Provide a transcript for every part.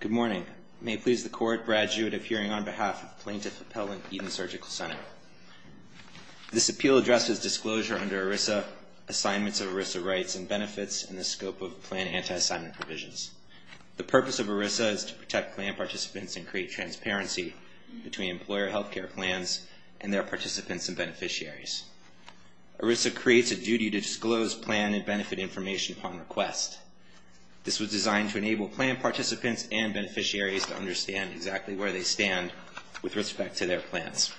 Good morning. May it please the Court, graduate of hearing on behalf of Plaintiff Appellant Eaton Surgical Center. This appeal addresses disclosure under ERISA, assignments of ERISA rights and benefits, and the scope of plan anti-assignment provisions. The purpose of ERISA is to protect plan participants and create transparency between employer health care plans and their participants and beneficiaries. ERISA creates a duty to disclose plan and participants and beneficiaries to understand exactly where they stand with respect to their plans.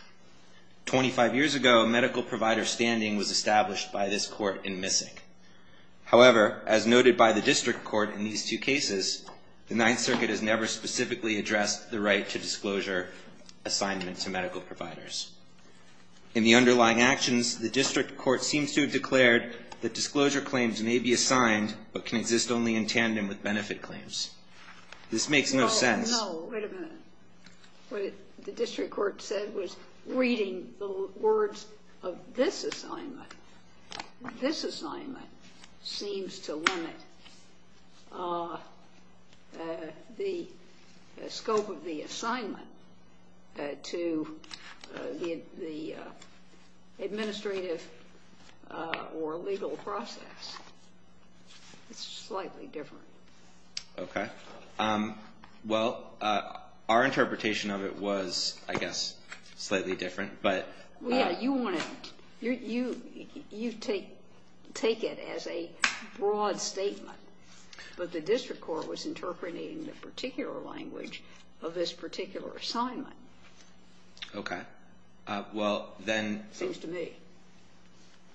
Twenty-five years ago, medical provider standing was established by this Court in Missick. However, as noted by the District Court in these two cases, the Ninth Circuit has never specifically addressed the right to disclosure assignment to medical providers. In the underlying actions, the District Court seems to have declared that disclosure claims may be assigned but can exist only in tandem with benefit claims. This makes no sense. No, wait a minute. What the District Court said was reading the words of this assignment. This assignment seems to limit the scope of the assignment to the administrative or legal process. It's slightly different. Okay. Well, our interpretation of it was, I guess, slightly different, but... Yeah, you want to... You take it as a broad statement, but the District Court was interpreting the particular language of this particular assignment. Okay. Well, then... Seems to me.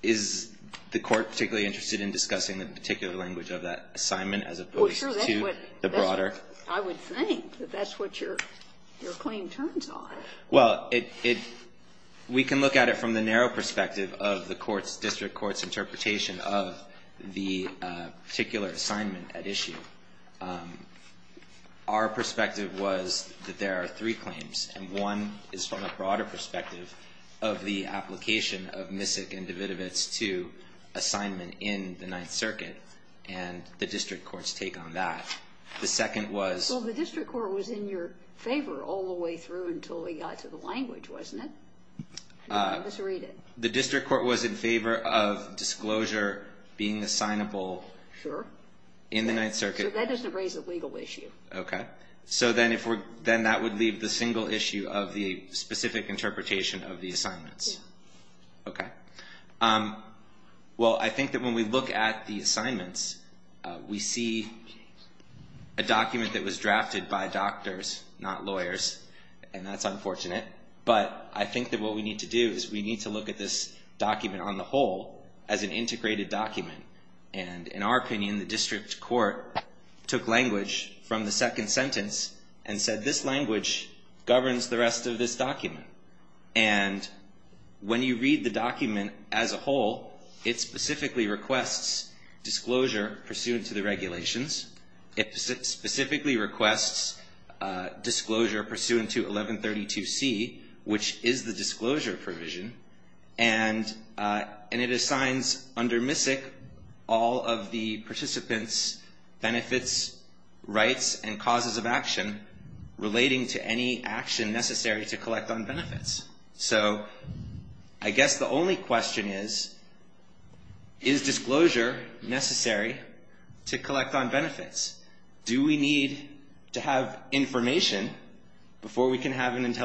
Is the Court particularly interested in discussing the particular language of that assignment as opposed to the broader? I would think that that's what your claim turns on. Well, we can look at it from the narrow perspective of the District Court's interpretation of the particular assignment at issue. Our perspective was that there are three claims, and one is from a broader perspective of the application of Misick and Davidovitz II assignment in the Ninth Circuit and the District Court's take on that. The second was... Well, the District Court was in your favor all the way through until we got to the language, wasn't it? The District Court was in favor of disclosure being assignable in the Ninth Circuit. Sure. So that doesn't raise a legal issue. Okay. So then that would leave the single issue of the specific interpretation of the assignments. Okay. Well, I think that when we look at the assignments, we see a document that was drafted by doctors, not lawyers, and that's unfortunate. But I think that what we need to do is we need to look at this document on the whole as an integrated document. And in our opinion, the District Court took language from the second sentence and said, this language governs the rest of this document. And when you read the document as a whole, it specifically requests disclosure pursuant to the regulations. It specifically requests disclosure pursuant to 1132C, which is the disclosure provision. And it assigns under Misick all of the participants benefits, rights, and causes of action relating to any action necessary to collect on benefits. So I guess the only question is, is disclosure necessary to collect on benefits? Do we need to have information before we can have an assessment?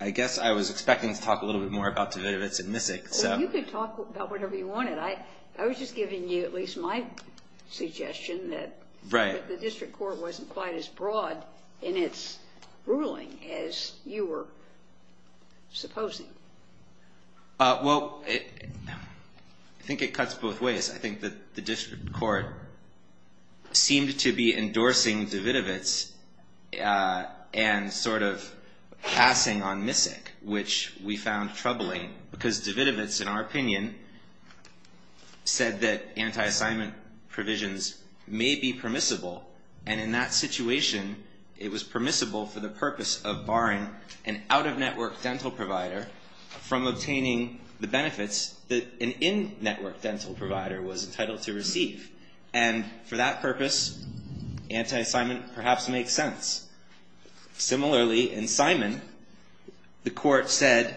I guess I was expecting to talk a little bit more about Dvidovitz and Misick. Well, you could talk about whatever you wanted. I was just giving you at least my suggestion that the District Court wasn't quite as broad in its ruling as you were supposing. Well, I think it cuts both ways. I think that the District Court seemed to be endorsing Dvidovitz and sort of passing on Misick, which we found troubling because Dvidovitz, in our opinion, said that anti-assignment provisions may be permissible. And in that situation, it was permissible for the purpose of barring an out-of-network dental provider from obtaining the benefits that an in-network dental provider was entitled to receive. And for that purpose, anti-assignment perhaps makes sense. Similarly, in Simon, the court said,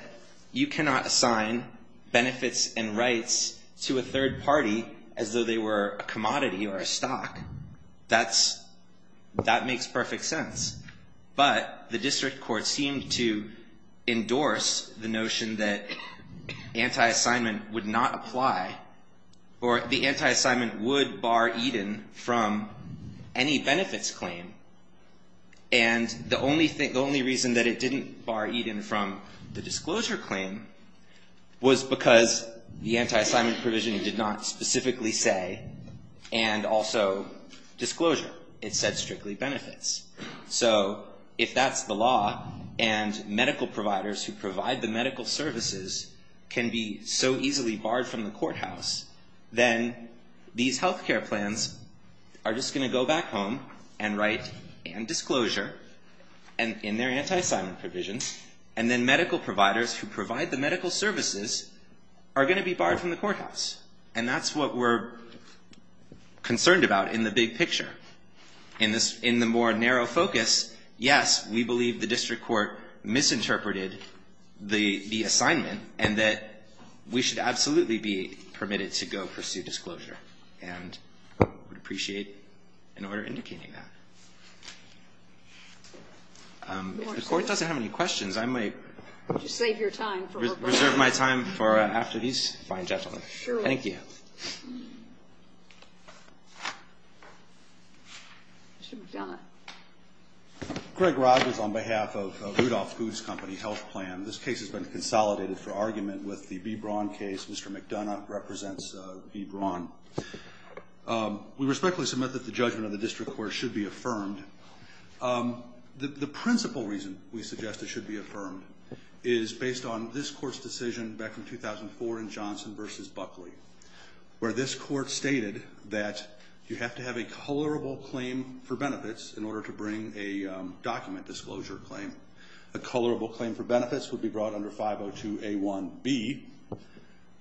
you cannot assign benefits and rights to a third party as though they were a commodity or a stock. That makes perfect sense. But the District Court seemed to endorse the notion that anti-assignment would not apply or the anti-assignment would bar Eden from any benefits claim. And the only thing, the only reason that it didn't bar Eden from the disclosure claim was because the anti-assignment provision did not specifically say, and also disclosure. It said strictly benefits. So if that's the law and medical providers who provide the medical services can be so easily barred from the courthouse, then these health care plans are just going to go back home and write and disclosure in their anti-assignment provisions. And then medical providers who provide the medical services are going to be barred from the courthouse. And that's what we're concerned about in the big picture. In the more narrow focus, yes, we believe the District Court misinterpreted the assignment and that we should absolutely be permitted to go pursue disclosure. And we'd appreciate an order indicating that. If the Court doesn't have any questions, I might reserve my time for after these fine gentlemen. Thank you. Mr. McDonough. Greg Rogers on behalf of Rudolph Foods Company Health Plan. This case has been consolidated for argument with the B. Braun case. Mr. McDonough represents B. Braun. We respectfully submit that the judgment of the District Court should be affirmed. The principal reason we suggest it should be affirmed is based on this case from 2004 in Johnson v. Buckley, where this court stated that you have to have a colorable claim for benefits in order to bring a document disclosure claim. A colorable claim for benefits would be brought under 502A1B.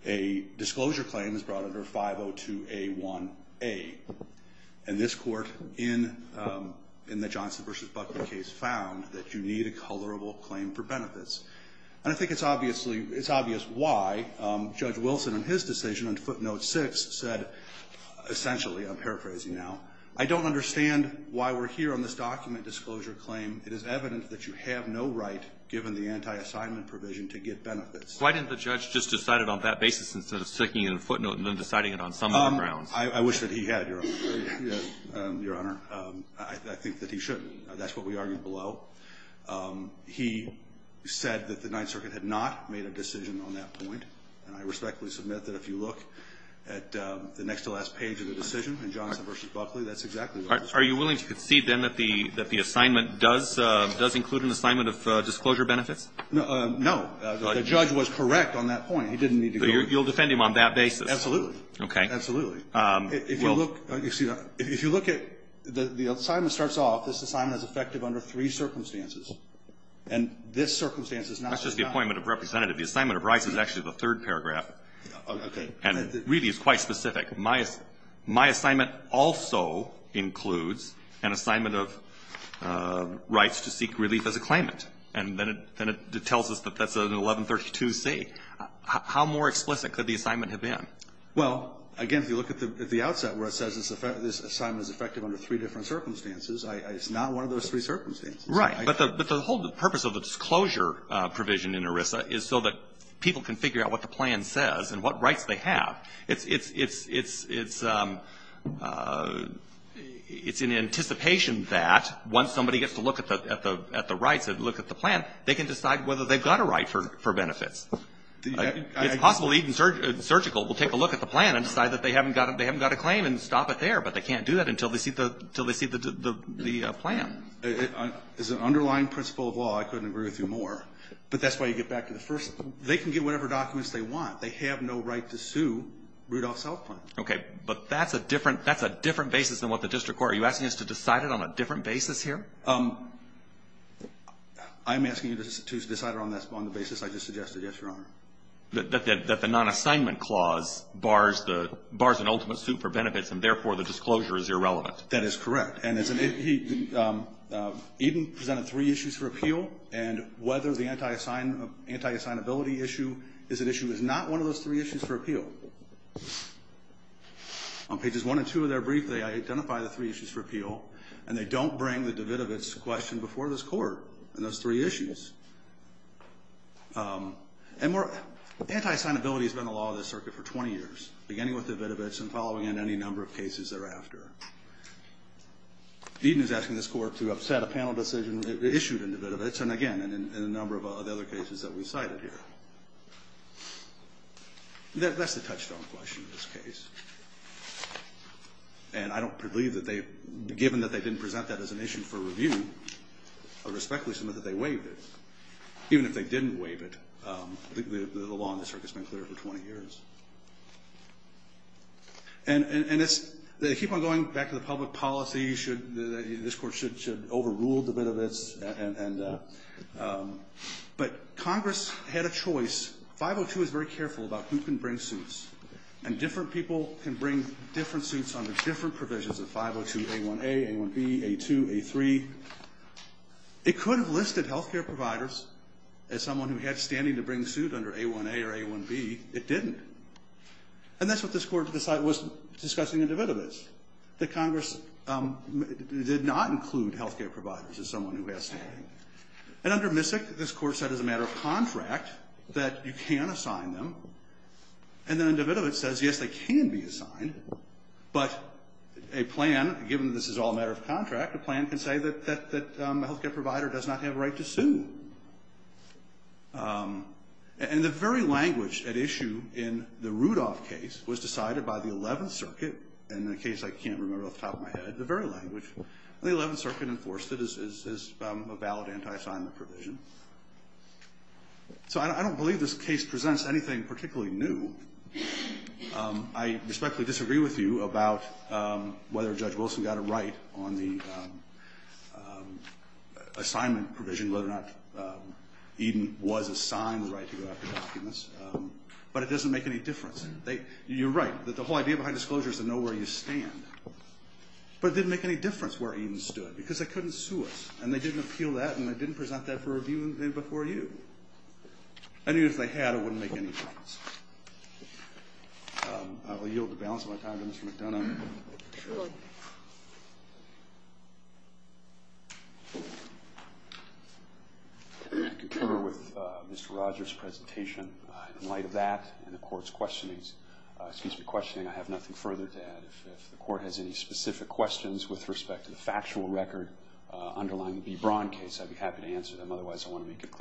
A disclosure claim is brought under 502A1A. And this court in the Johnson v. Buckley case found that you need a colorable claim for benefits. And I think it's obviously why Judge Wilson in his decision on footnote 6 said, essentially I'm paraphrasing now, I don't understand why we're here on this document disclosure claim. It is evident that you have no right, given the anti-assignment provision, to get benefits. Why didn't the judge just decide it on that basis instead of sticking it in a footnote and then deciding it on some other grounds? I wish that he had, Your Honor. I think that he shouldn't. That's what we argued below. He said that the Ninth Circuit had not made a decision on that point. And I respectfully submit that if you look at the next-to-last page of the decision in Johnson v. Buckley, that's exactly what was proposed. Are you willing to concede, then, that the assignment does include an assignment of disclosure benefits? No. The judge was correct on that point. He didn't need to go over it. So you'll defend him on that basis? Absolutely. Okay. Absolutely. If you look at the assignment starts off, this assignment is effective under three circumstances. And this circumstance is not just now. That's just the appointment of representative. The assignment of rights is actually the third paragraph. Okay. And really, it's quite specific. My assignment also includes an assignment of rights to seek relief as a claimant. And then it tells us that that's an 1132C. How more explicit could the assignment have been? Well, again, if you look at the outset where it says this assignment is effective under three different circumstances, it's not one of those three circumstances. Right. But the whole purpose of the disclosure provision in ERISA is so that people can figure out what the plan says and what rights they have. It's in anticipation that once somebody gets to look at the rights and look at the plan, they can decide whether they've got a right for benefits. It's possible even surgical will take a look at the plan and decide that they haven't got a claim and stop it there, but they can't do that until they see the plan. As an underlying principle of law, I couldn't agree with you more. But that's why you get back to the first. They can get whatever documents they want. They have no right to sue Rudolph South Point. Okay. But that's a different basis than what the district court. Are you asking us to decide it on a different basis here? I'm asking you to decide it on the basis I just suggested, yes, Your Honor. That the non-assignment clause bars an ultimate suit for benefits, and therefore the disclosure is irrelevant. That is correct. Eden presented three issues for appeal, and whether the anti-assignability issue is an issue is not one of those three issues for appeal. On pages one and two of their brief, they identify the three issues for appeal, and they don't bring the Davidovitz question before this Court on those three issues. Anti-assignability has been a law of this circuit for 20 years, beginning with Davidovitz thereafter. Eden is asking this Court to upset a panel decision issued in Davidovitz, and again, in a number of other cases that we cited here. That's the touchstone question in this case. And I don't believe that they've, given that they didn't present that as an issue for review, I respectfully submit that they waived it. Even if they didn't waive it, the law on this circuit has been clear for 20 years. And it's, they keep on going back to the public policy, should, this Court should overrule Davidovitz, and, but Congress had a choice. 502 is very careful about who can bring suits, and different people can bring different suits under different provisions of 502a1a, a1b, a2, a3. It could have listed health care providers as someone who had standing to bring suit under a1a or a1b. It didn't. And that's what this Court decided, was discussing in Davidovitz. That Congress did not include health care providers as someone who has standing. And under Misik, this Court said as a matter of contract, that you can assign them. And then in Davidovitz it says, yes, they can be assigned. But a plan, given this is all a matter of contract, a plan can say that, that, that health care provider does not have a right to sue. And the very language at issue in the Rudolph case was decided by the Eleventh Circuit, and in a case I can't remember off the top of my head, the very language. And the Eleventh Circuit enforced it as, as, as a valid anti-assignment provision. So I, I don't believe this case presents anything particularly new. I respectfully disagree with you about whether Judge Wilson got it right on the assignment provision, whether or not Eden was assigned the right to go after documents. But it doesn't make any difference. They, you're right, that the whole idea behind disclosure is to know where you stand. But it didn't make any difference where Eden stood, because they couldn't sue us. And they didn't appeal that, and they didn't present that for review before you. And even if they had, it wouldn't make any difference. I will yield the balance of my time to Mr. McDonough. I concur with Mr. Rogers' presentation. In light of that and the court's questionings, excuse me, questioning, I have nothing further to add. If, if the court has any specific questions with respect to the factual record underlying the B. Braun case, I'd be happy to answer them. Otherwise, I want to make it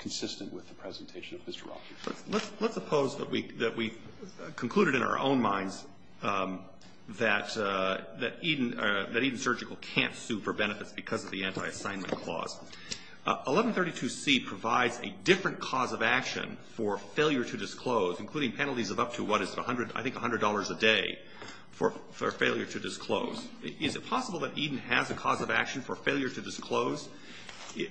consistent with the presentation of Mr. Rogers. Let's, let's, let's suppose that we, that we concluded in our own minds that, that Eden, that Eden Surgical can't sue for benefits because of the anti-assignment clause. 1132C provides a different cause of action for failure to disclose, including penalties of up to what is 100, I think $100 a day, for, for failure to disclose. Is it possible that Eden has a cause of action for failure to disclose,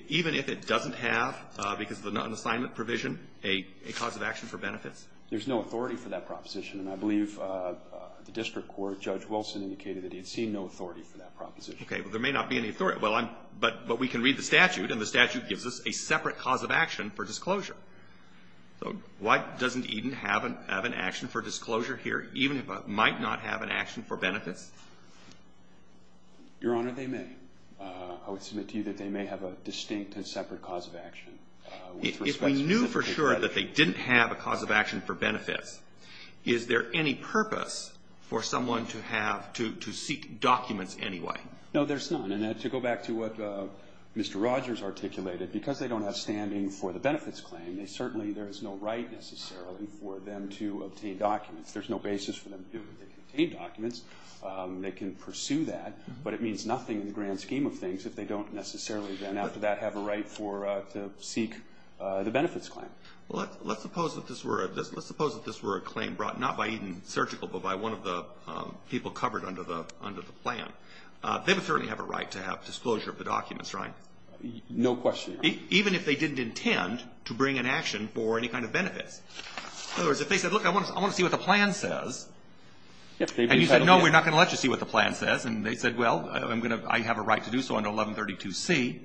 even if it doesn't have, because of the non-assignment provision, a, a cause of action for benefits? There's no authority for that proposition, and I believe the district court, Judge Wilson, indicated that he had seen no authority for that proposition. Okay. Well, there may not be any authority. Well, I'm, but, but we can read the statute, and the statute gives us a separate cause of action for disclosure. So why doesn't Eden have an, have an action for disclosure here, even if it might not have an action for benefits? Your Honor, they may. I would submit to you that they may have a distinct and separate cause of action with respect to the particular case. If we knew for sure that they didn't have a cause of action for benefits, is there any purpose for someone to have, to, to seek documents anyway? No, there's none. And to go back to what Mr. Rogers articulated, because they don't have standing for the benefits claim, they certainly, there is no right necessarily for them to obtain documents. There's no basis for them to do it. They can obtain documents. They can pursue that, but it means nothing in the grand scheme of things if they don't necessarily then, after that, have a right for, to seek the benefits claim. Well, let's, let's suppose that this were a, let's suppose that this were a claim brought not by Eden Surgical, but by one of the people covered under the, under the plan. They would certainly have a right to have disclosure of the documents, right? No question, Your Honor. Even if they didn't intend to bring an action for any kind of benefits. In other words, if they said, look, I want to see what the plan says, and you said, no, we're not going to let you see what the plan says, and they said, well, I'm going to, I have a right to do so under 1132C.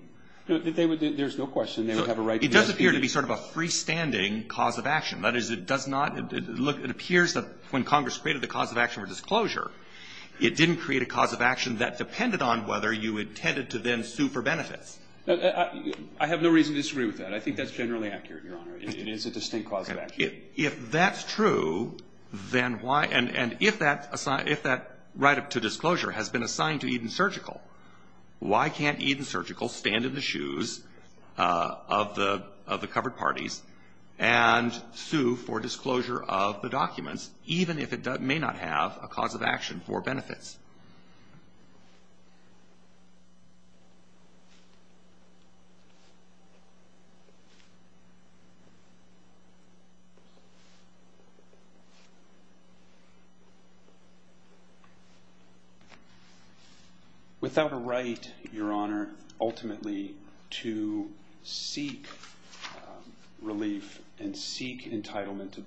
There's no question they would have a right. It does appear to be sort of a freestanding cause of action. That is, it does not, look, it appears that when Congress created the cause of action for disclosure, it didn't create a cause of action that depended on whether you intended to then sue for benefits. I have no reason to disagree with that. I think that's generally accurate, Your Honor. It is a distinct cause of action. If that's true, then why, and if that right to disclosure has been assigned to Eden Surgical, why can't Eden Surgical stand in the shoes of the covered parties and sue for disclosure of the documents, even if it may not have a cause of action for benefits? Without a right, Your Honor, ultimately to seek relief and seek entitlement to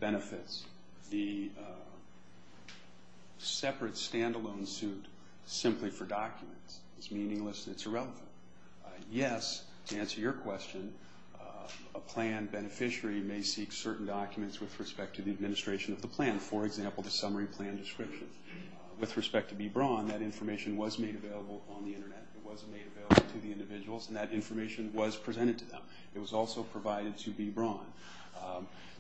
simply for documents is meaningless and it's irrelevant. Yes, to answer your question, a plan beneficiary may seek certain documents with respect to the administration of the plan. For example, the summary plan description. With respect to B. Braun, that information was made available on the Internet. It was made available to the individuals, and that information was presented to them. It was also provided to B. Braun.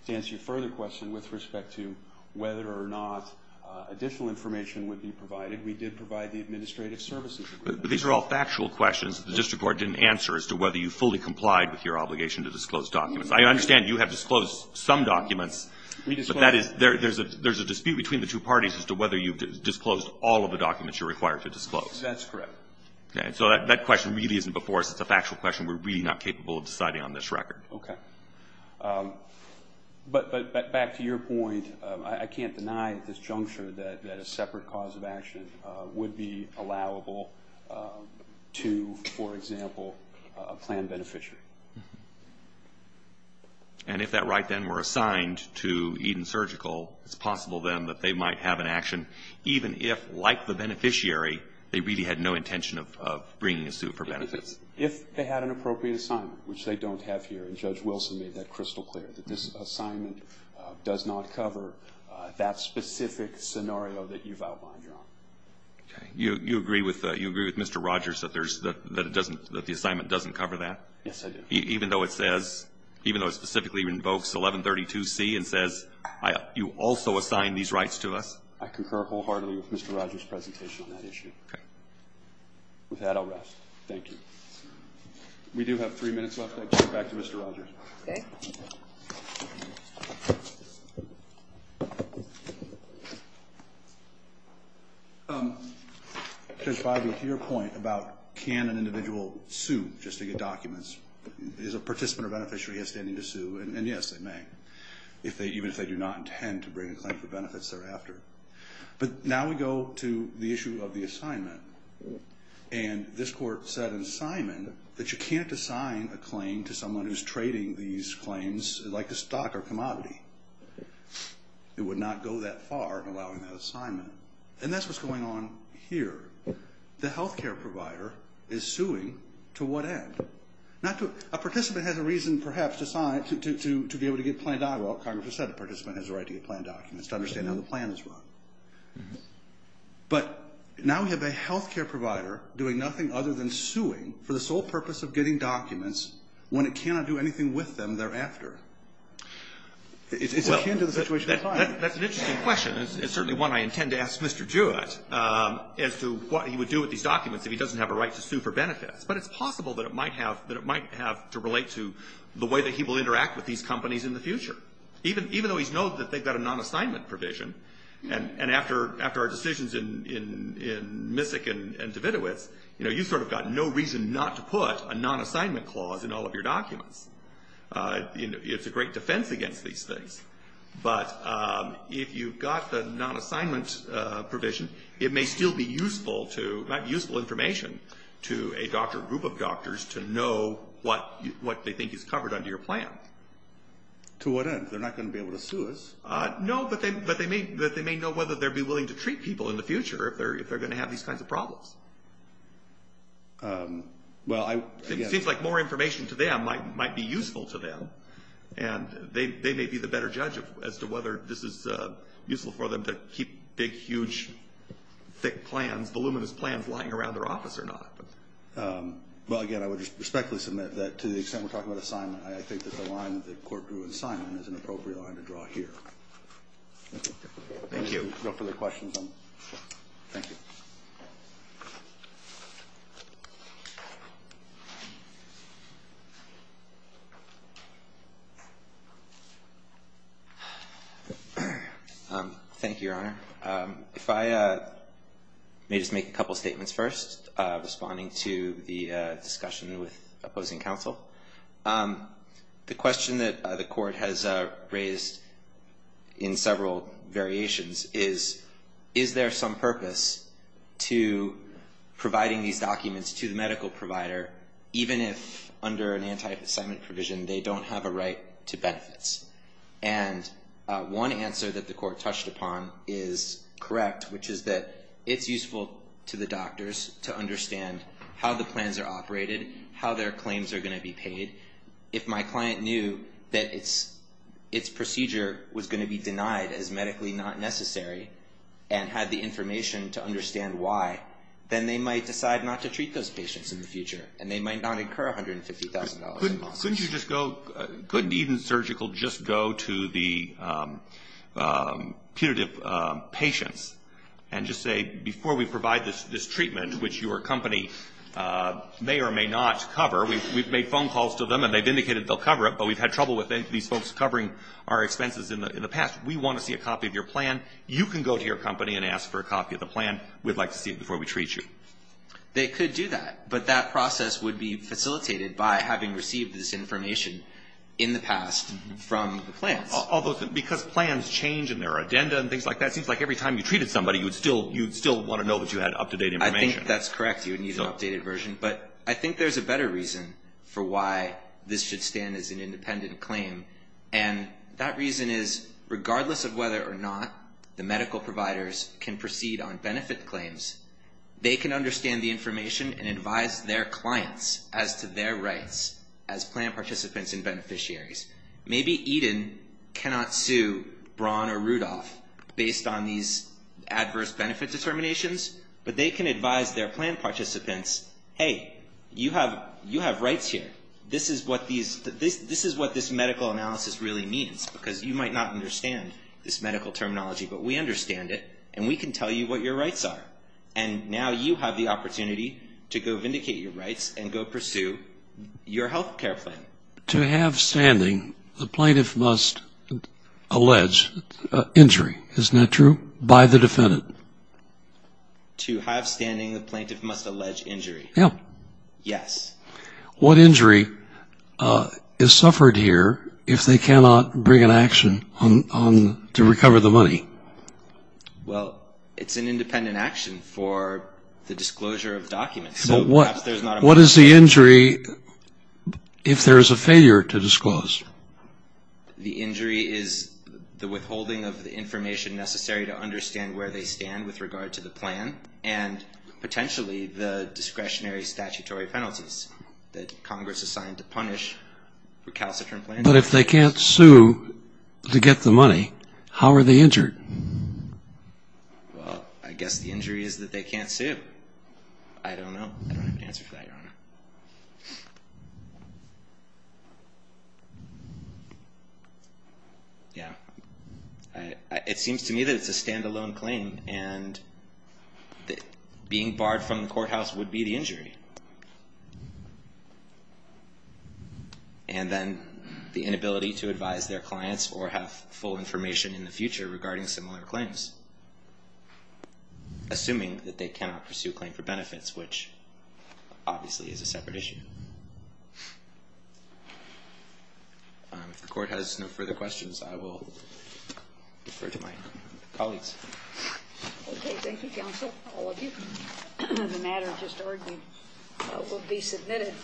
To answer your further question with respect to whether or not additional information would be provided, we did provide the administrative services agreement. But these are all factual questions that the district court didn't answer as to whether you fully complied with your obligation to disclose documents. I understand you have disclosed some documents. But that is, there's a dispute between the two parties as to whether you disclosed all of the documents you're required to disclose. That's correct. Okay. So that question really isn't before us. It's a factual question. We're really not capable of deciding on this record. Okay. But back to your point, I can't deny at this juncture that a separate cause of action would be allowable to, for example, a plan beneficiary. And if that right then were assigned to Eden Surgical, it's possible then that they might have an action, even if, like the beneficiary, they really had no intention of bringing a suit for benefits. If they had an appropriate assignment, which they don't have here, and Judge Rogers is crystal clear that this assignment does not cover that specific scenario that you've outlined, Your Honor. Okay. You agree with Mr. Rogers that it doesn't, that the assignment doesn't cover that? Yes, I do. Even though it says, even though it specifically invokes 1132C and says you also assigned these rights to us? I concur wholeheartedly with Mr. Rogers' presentation on that issue. Okay. With that, I'll rest. Thank you. We do have three minutes left. I turn it back to Mr. Rogers. Okay. Judge Bidey, to your point about can an individual sue just to get documents, is a participant or beneficiary outstanding to sue? And yes, they may, even if they do not intend to bring a claim for benefits thereafter. But now we go to the issue of the assignment. And this Court said in assignment that you can't assign a claim to someone who's trading these claims like a stock or commodity. It would not go that far in allowing that assignment. And that's what's going on here. The health care provider is suing to what end? A participant has a reason, perhaps, to be able to get planned documents. Well, Congress has said a participant has a right to get planned documents, to understand how the plan is run. But now we have a health care provider doing nothing other than suing for the benefits. And he can't do anything with them thereafter. It's akin to the situation at hand. That's an interesting question. It's certainly one I intend to ask Mr. Jewett as to what he would do with these documents if he doesn't have a right to sue for benefits. But it's possible that it might have to relate to the way that he will interact with these companies in the future, even though he's known that they've got a non-assignment provision. And after our decisions in Misick and Davidovitz, you've sort of got no reason not to put a non-assignment clause in all of your documents. It's a great defense against these things. But if you've got the non-assignment provision, it might be useful information to a group of doctors to know what they think is covered under your plan. To what end? They're not going to be able to sue us. No, but they may know whether they'll be willing to treat people in the future if they're going to have these kinds of problems. It seems like more information to them might be useful to them. And they may be the better judge as to whether this is useful for them to keep big, huge, thick plans, voluminous plans lying around their office or not. Well, again, I would respectfully submit that to the extent we're talking about assignment, I think that the line that the court drew in assignment is an appropriate line to draw here. Thank you. If there are no further questions, thank you. Thank you, Your Honor. If I may just make a couple of statements first, responding to the discussion with opposing counsel. The question that the court has raised in several variations is, is there some purpose to providing these documents to the medical provider even if under an anti-assignment provision they don't have a right to benefits? And one answer that the court touched upon is correct, which is that it's useful to the doctors to understand how the plans are going to be paid. If my client knew that its procedure was going to be denied as medically not necessary and had the information to understand why, then they might decide not to treat those patients in the future, and they might not incur $150,000 in losses. Couldn't even surgical just go to the punitive patients and just say, before we provide this treatment, which your company may or may not cover, we've made phone calls to them and they've indicated they'll cover it, but we've had trouble with these folks covering our expenses in the past. We want to see a copy of your plan. You can go to your company and ask for a copy of the plan. We'd like to see it before we treat you. They could do that, but that process would be facilitated by having received this information in the past from the plans. Although, because plans change in their addenda and things like that, it seems like every time you treated somebody, you would still want to know that you had up-to-date information. I think that's correct. You would need an updated version. But I think there's a better reason for why this should stand as an independent claim, and that reason is, regardless of whether or not the medical providers can proceed on benefit claims, they can understand the information and advise their clients as to their rights as plan participants and beneficiaries. Maybe Eden cannot sue Braun or Rudolph based on these adverse benefit determinations, but they can advise their plan participants, hey, you have rights here. This is what this medical analysis really means, because you might not understand this medical terminology, but we understand it, and we can tell you what your rights are. And now you have the opportunity to go vindicate your rights and go pursue your health care plan. To have standing, the plaintiff must allege injury, isn't that true, by the defendant? To have standing, the plaintiff must allege injury. Yes. What injury is suffered here if they cannot bring an action to recover the money? Well, it's an independent action for the disclosure of documents. What is the injury if there is a failure to disclose? The injury is the withholding of the information necessary to understand where they stand with regard to the plan, and potentially the discretionary statutory penalties that Congress assigned to punish recalcitrant plaintiffs. But if they can't sue to get the money, how are they injured? I don't know. I don't have an answer for that, Your Honor. Yeah. It seems to me that it's a standalone claim, and being barred from the courthouse would be the injury. And then the inability to advise their clients or have full information in the future regarding similar claims. Assuming that they cannot pursue a claim for benefits, which obviously is a separate issue. If the Court has no further questions, I will defer to my colleagues. Okay. Thank you, counsel, all of you. The matter just argued will be submitted.